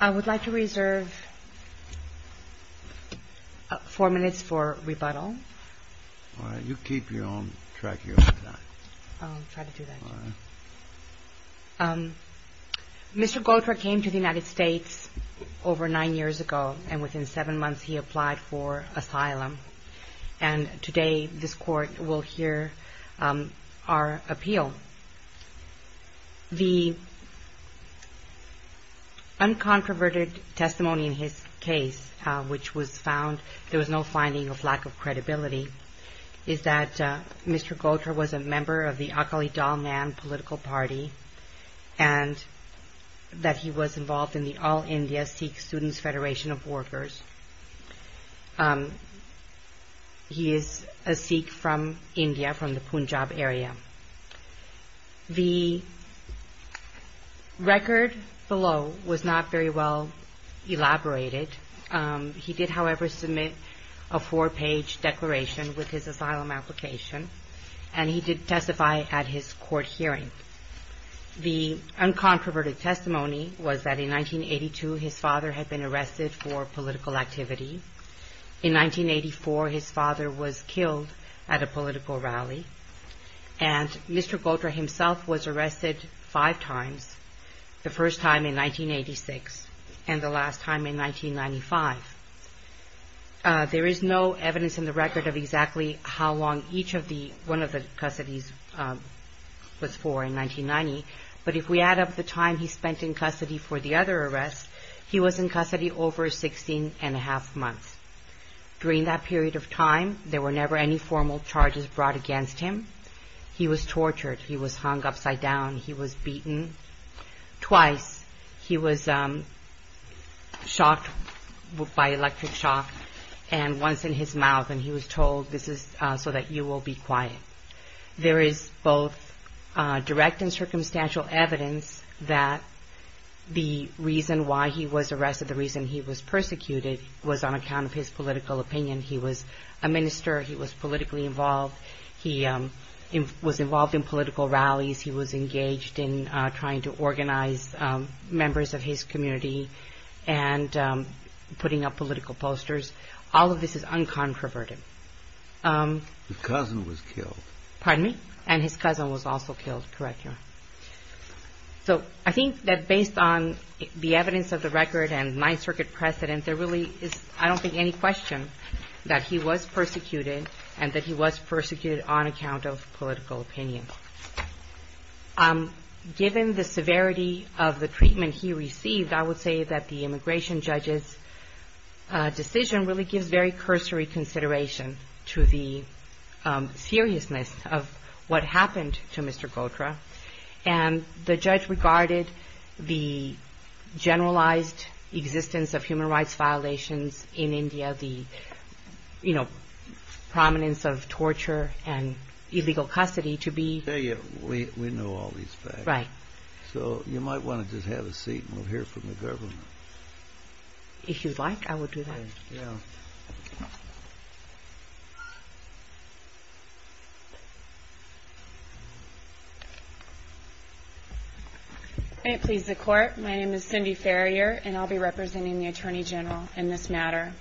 I would like to reserve four minutes for rebuttal. All right. You keep your own track here. I'll try to do that. All right. Mr. Gontra came to the United States over nine years ago, and within seven months he applied for asylum. And today this Court will hear our appeal. So the uncontroverted testimony in his case, which was found, there was no finding of lack of credibility, is that Mr. Gontra was a member of the Akali Dal Nan political party, and that he was involved in the All India Sikh Students' Federation of Workers. He is a Sikh from India, from the Punjab area. The record below was not very well elaborated. He did, however, submit a four-page declaration with his asylum application, and he did testify at his court hearing. The uncontroverted testimony was that in 1982 his father had been arrested for political activity. In 1984 his father was killed at a political rally. And Mr. Gontra himself was arrested five times, the first time in 1986 and the last time in 1995. There is no evidence in the record of exactly how long each of the, one of the custodies was for in 1990, but if we add up the time he spent in custody for the other arrests, he was in custody over 16 and a half months. During that period of time there were never any formal charges brought against him. He was tortured, he was hung upside down, he was beaten. Twice he was shocked by electric shock, and once in his mouth, and he was told, this is so that you will be quiet. There is both direct and circumstantial evidence that the reason why he was arrested, the reason he was persecuted, was on account of his political opinion. He was a minister, he was politically involved, he was involved in political rallies, he was engaged in trying to organize members of his community and putting up political posters. All of this is uncontroverted. The cousin was killed. Pardon me? And his cousin was also killed, correct? So I think that based on the evidence of the record and Ninth Circuit precedent, there really is, I don't think, any question that he was persecuted and that he was persecuted on account of political opinion. Given the severity of the treatment he received, I would say that the immigration judge's decision really gives very cursory consideration to the seriousness of what happened to Mr. Gotra. And the judge regarded the generalized existence of human rights violations in India, the prominence of torture and illegal custody to be... We know all these facts. Right. So you might want to just have a seat and we'll hear from the government. If you'd like, I will do that. May it please the Court. My name is Cindy Farrier and I'll be representing the Attorney General in this matter.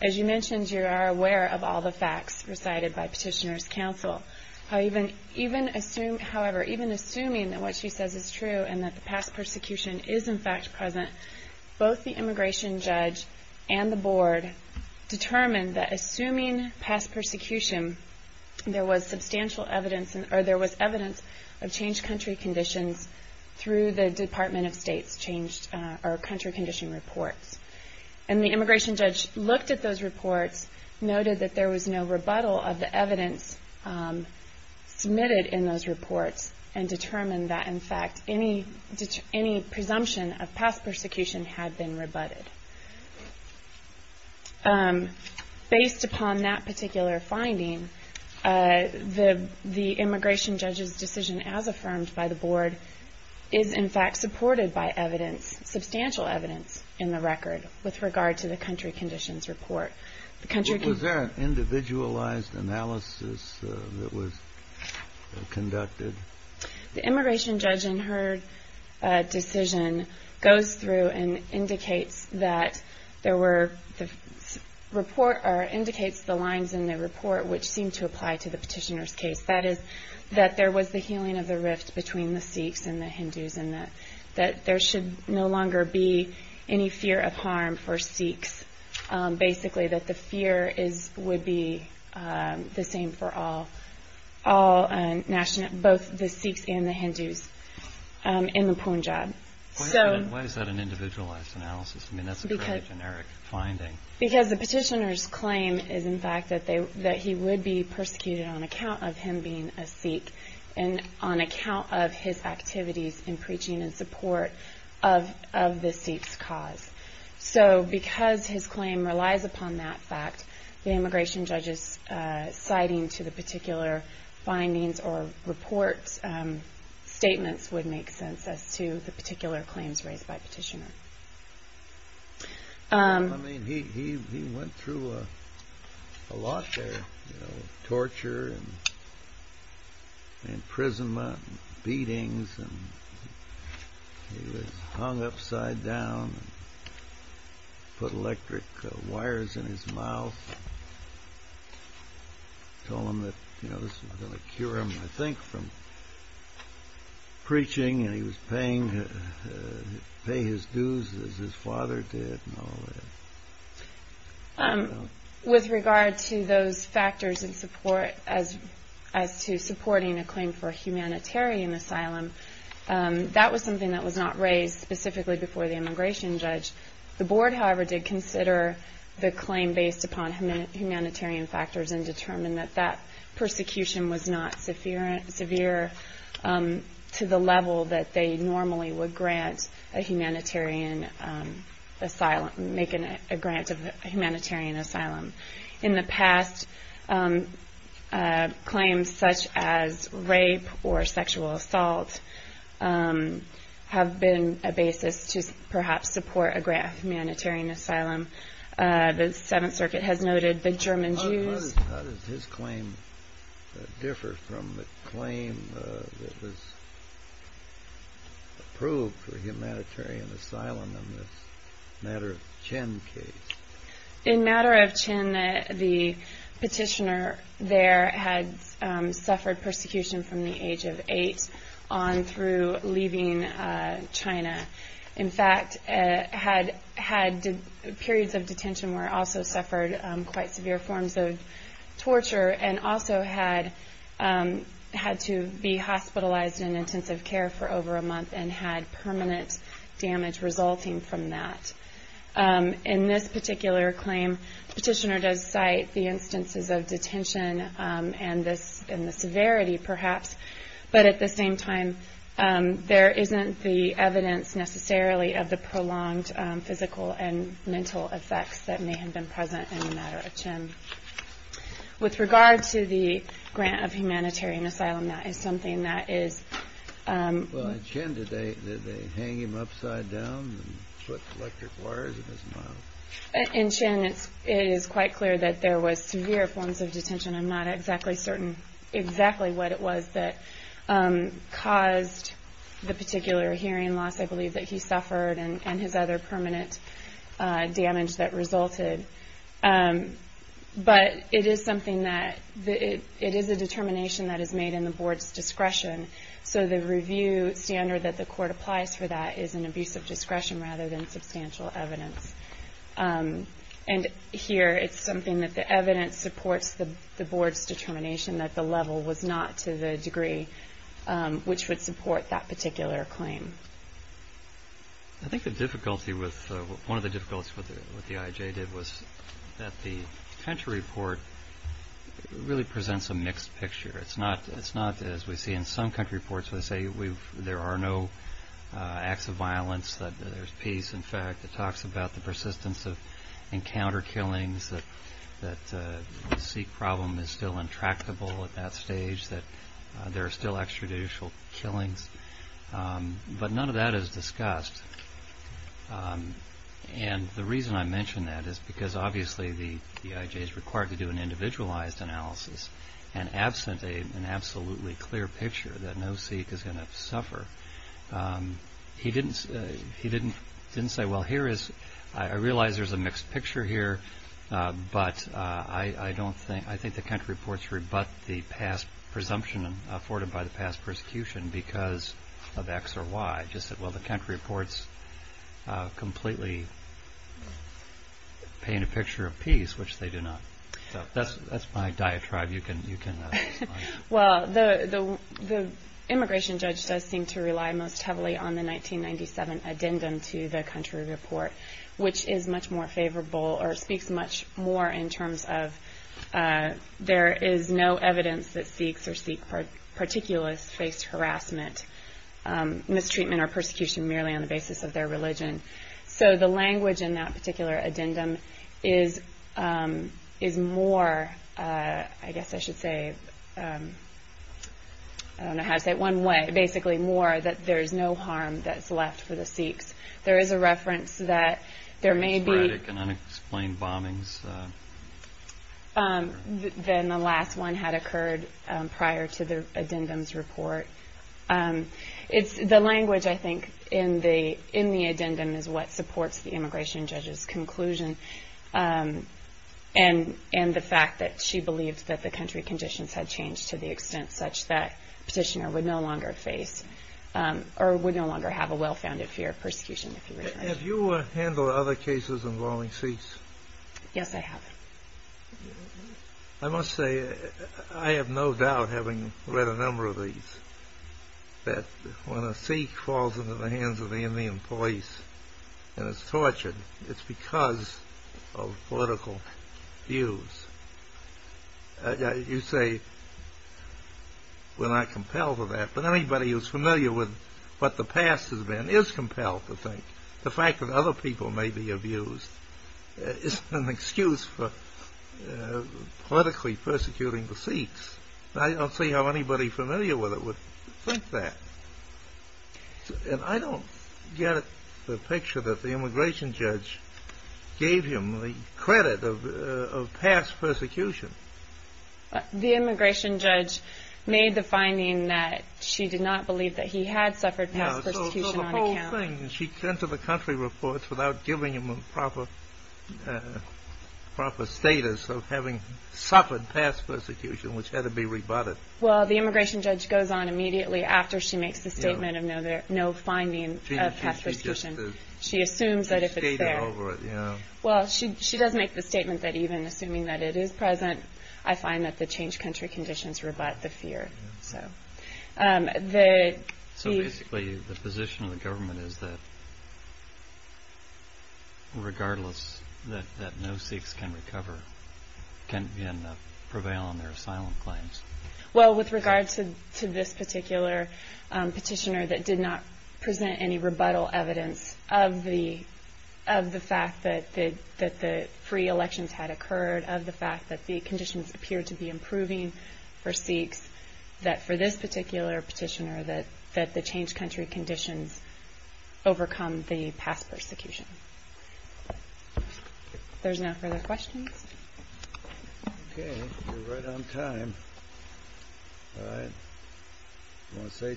As you mentioned, you are aware of all the facts recited by Petitioner's Counsel. However, even assuming that what she says is true and that the past persecution is in fact present, both the immigration judge and the board determined that assuming past persecution, there was substantial evidence or there was evidence of changed country conditions through the Department of State's country condition reports. And the immigration judge looked at those reports, noted that there was no rebuttal of the evidence submitted in those reports, and determined that in fact any presumption of past persecution had been rebutted. Based upon that particular finding, the immigration judge's decision as affirmed by the board is in fact supported by evidence, substantial evidence in the record with regard to the country conditions report. Was there an individualized analysis that was conducted? The immigration judge in her decision goes through and indicates the lines in the report which seem to apply to the petitioner's case. That is, that there was the healing of the rift between the Sikhs and the Hindus and that there should no longer be any fear of harm for Sikhs. Basically that the fear would be the same for all, both the Sikhs and the Hindus in the Punjab. Why is that an individualized analysis? I mean that's a fairly generic finding. Because the petitioner's claim is in fact that he would be persecuted on account of him being a Sikh and on account of his activities in preaching in support of the Sikhs' cause. So because his claim relies upon that fact, the immigration judge's citing to the particular findings or report statements would make sense as to the particular claims raised by the petitioner. He went through a lot there, torture, imprisonment, beatings. He was hung upside down, put electric wires in his mouth. Told him that this was going to cure him, I think, from preaching. And he was paying his dues as his father did. With regard to those factors as to supporting a claim for humanitarian asylum, that was something that was not raised specifically before the immigration judge. The board, however, did consider the claim based upon humanitarian factors and determined that that persecution was not severe to the level that they normally would grant a humanitarian asylum, make a grant of humanitarian asylum. In the past, claims such as rape or sexual assault have been a basis to perhaps support a grant of humanitarian asylum. The Seventh Circuit has noted the German Jews... ...approved for humanitarian asylum in this Matter of Chin case. In Matter of Chin, the petitioner there had suffered persecution from the age of eight on through leaving China. In fact, had periods of detention where also suffered quite severe forms of torture and also had to be hospitalized in intensive care for over a month and had permanent damage resulting from that. In this particular claim, the petitioner does cite the instances of detention and the severity perhaps, but at the same time, there isn't the evidence necessarily of the prolonged physical and mental effects that may have been present in the Matter of Chin. With regard to the grant of humanitarian asylum, that is something that is... Well, in Chin, did they hang him upside down and put electric wires in his mouth? In Chin, it is quite clear that there was severe forms of detention. I'm not exactly certain exactly what it was that caused the particular hearing loss, I believe that he suffered and his other permanent damage that resulted. But it is something that... It is a determination that is made in the board's discretion. So the review standard that the court applies for that is an abuse of discretion rather than substantial evidence. And here, it's something that the evidence supports the board's determination that the level was not to the degree which would support that particular claim. I think the difficulty with... One of the difficulties with what the IJ did was that the country report really presents a mixed picture. It's not as we see in some country reports where they say there are no acts of violence, that there's peace, in fact. It talks about the persistence of encounter killings, that the Sikh problem is still intractable at that stage, that there are still extrajudicial killings. But none of that is discussed. And the reason I mention that is because obviously the IJ is required to do an individualized analysis and absent an absolutely clear picture that no Sikh is going to suffer. He didn't say, well, here is... I realize there's a mixed picture here, but I think the country reports rebut the past presumption afforded by the past persecution because of X or Y. He just said, well, the country reports completely paint a picture of peace, which they do not. So that's my diatribe you can... Well, the immigration judge does seem to rely most heavily on the 1997 addendum to the country report, which is much more favorable or speaks much more in terms of there is no evidence that Sikhs or Sikh particulars face harassment, mistreatment, or persecution merely on the basis of their religion. So the language in that particular addendum is more, I guess I should say, I don't know how to say it one way, basically more that there is no harm that's left for the Sikhs. There is a reference that there may be... Sporadic and unexplained bombings. Then the last one had occurred prior to the addendum's report. The language, I think, in the addendum is what supports the immigration judge's conclusion and the fact that she believed that the country conditions had changed to the extent such that petitioner would no longer face or would no longer have a well-founded fear of persecution. Have you handled other cases involving Sikhs? Yes, I have. I must say I have no doubt, having read a number of these, that when a Sikh falls into the hands of the Indian police and is tortured, it's because of political views. You say we're not compelled to that, but anybody who's familiar with what the past has been is compelled to think. The fact that other people may be abused is an excuse for politically persecuting the Sikhs. I don't see how anybody familiar with it would think that. And I don't get the picture that the immigration judge gave him the credit of past persecution. The immigration judge made the finding that she did not believe that he had suffered past persecution on account. She turned to the country reports without giving him a proper status of having suffered past persecution, which had to be rebutted. Well, the immigration judge goes on immediately after she makes the statement of no finding of past persecution. She assumes that if it's there. Well, she does make the statement that even assuming that it is present, I find that the changed country conditions rebut the fear. So basically the position of the government is that regardless, that no Sikhs can recover, can prevail on their asylum claims. Well, with regard to this particular petitioner that did not present any rebuttal evidence of the fact that the free elections had occurred, of the fact that the conditions appear to be improving for Sikhs, that for this particular petitioner that the changed country conditions overcome the past persecution. If there's no further questions. OK, you're right on time. I want to say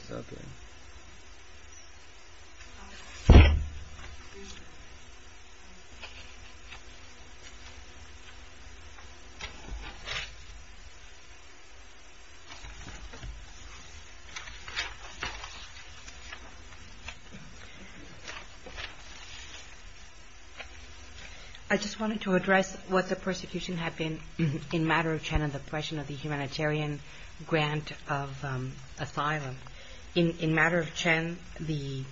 something. I just wanted to address what the persecution had been in matter of China, the question of the humanitarian grant of asylum in matter of Chen, the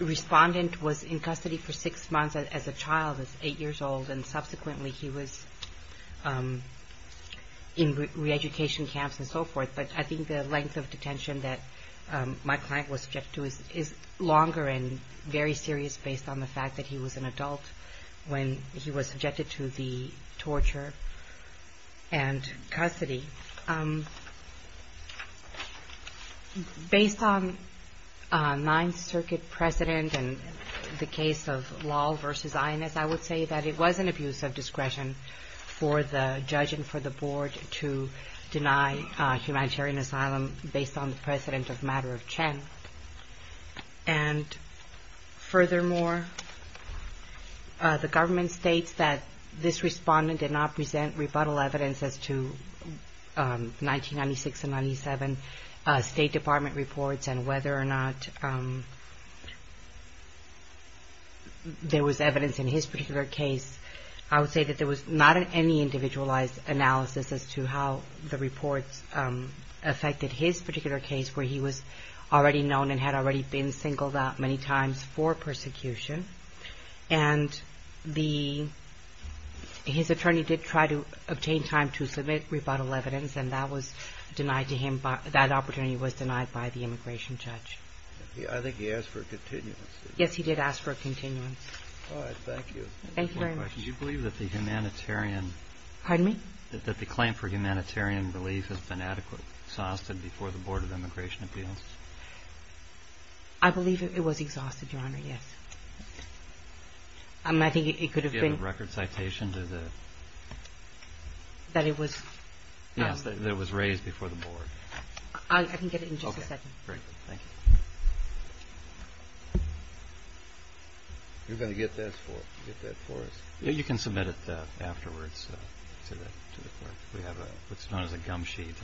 respondent was in custody for six months as a child, eight years old, and subsequently he was in reeducation camps and so forth. But I think the length of detention that my client was subject to is longer and very serious based on the fact that he was an adult when he was subjected to the torture and custody. Based on Ninth Circuit precedent and the case of law versus INS, I would say that it was an abuse of discretion for the judge and for the board to deny humanitarian asylum based on the precedent of matter of Chen. And furthermore, the government states that this respondent did not present rebuttal evidence as to 1996 and 97 State Department reports and whether or not there was evidence in his particular case. I would say that there was not any individualized analysis as to how the reports affected his particular case where he was already known and had already been singled out many times for persecution. And his attorney did try to obtain time to submit rebuttal evidence and that was denied to him, that opportunity was denied by the immigration judge. I think he asked for a continuance. Yes, he did ask for a continuance. All right, thank you. Thank you very much. Do you believe that the humanitarian... Pardon me? That the claim for humanitarian relief has been adequately exhausted before the Board of Immigration Appeals? I believe it was exhausted, Your Honor, yes. I think it could have been... Do you have a record citation to the... That it was... Yes, that it was raised before the Board. I can get it in just a second. Great, thank you. You're going to get that for us? Yes, you can submit it afterwards to the court. We have what's known as a gum sheet.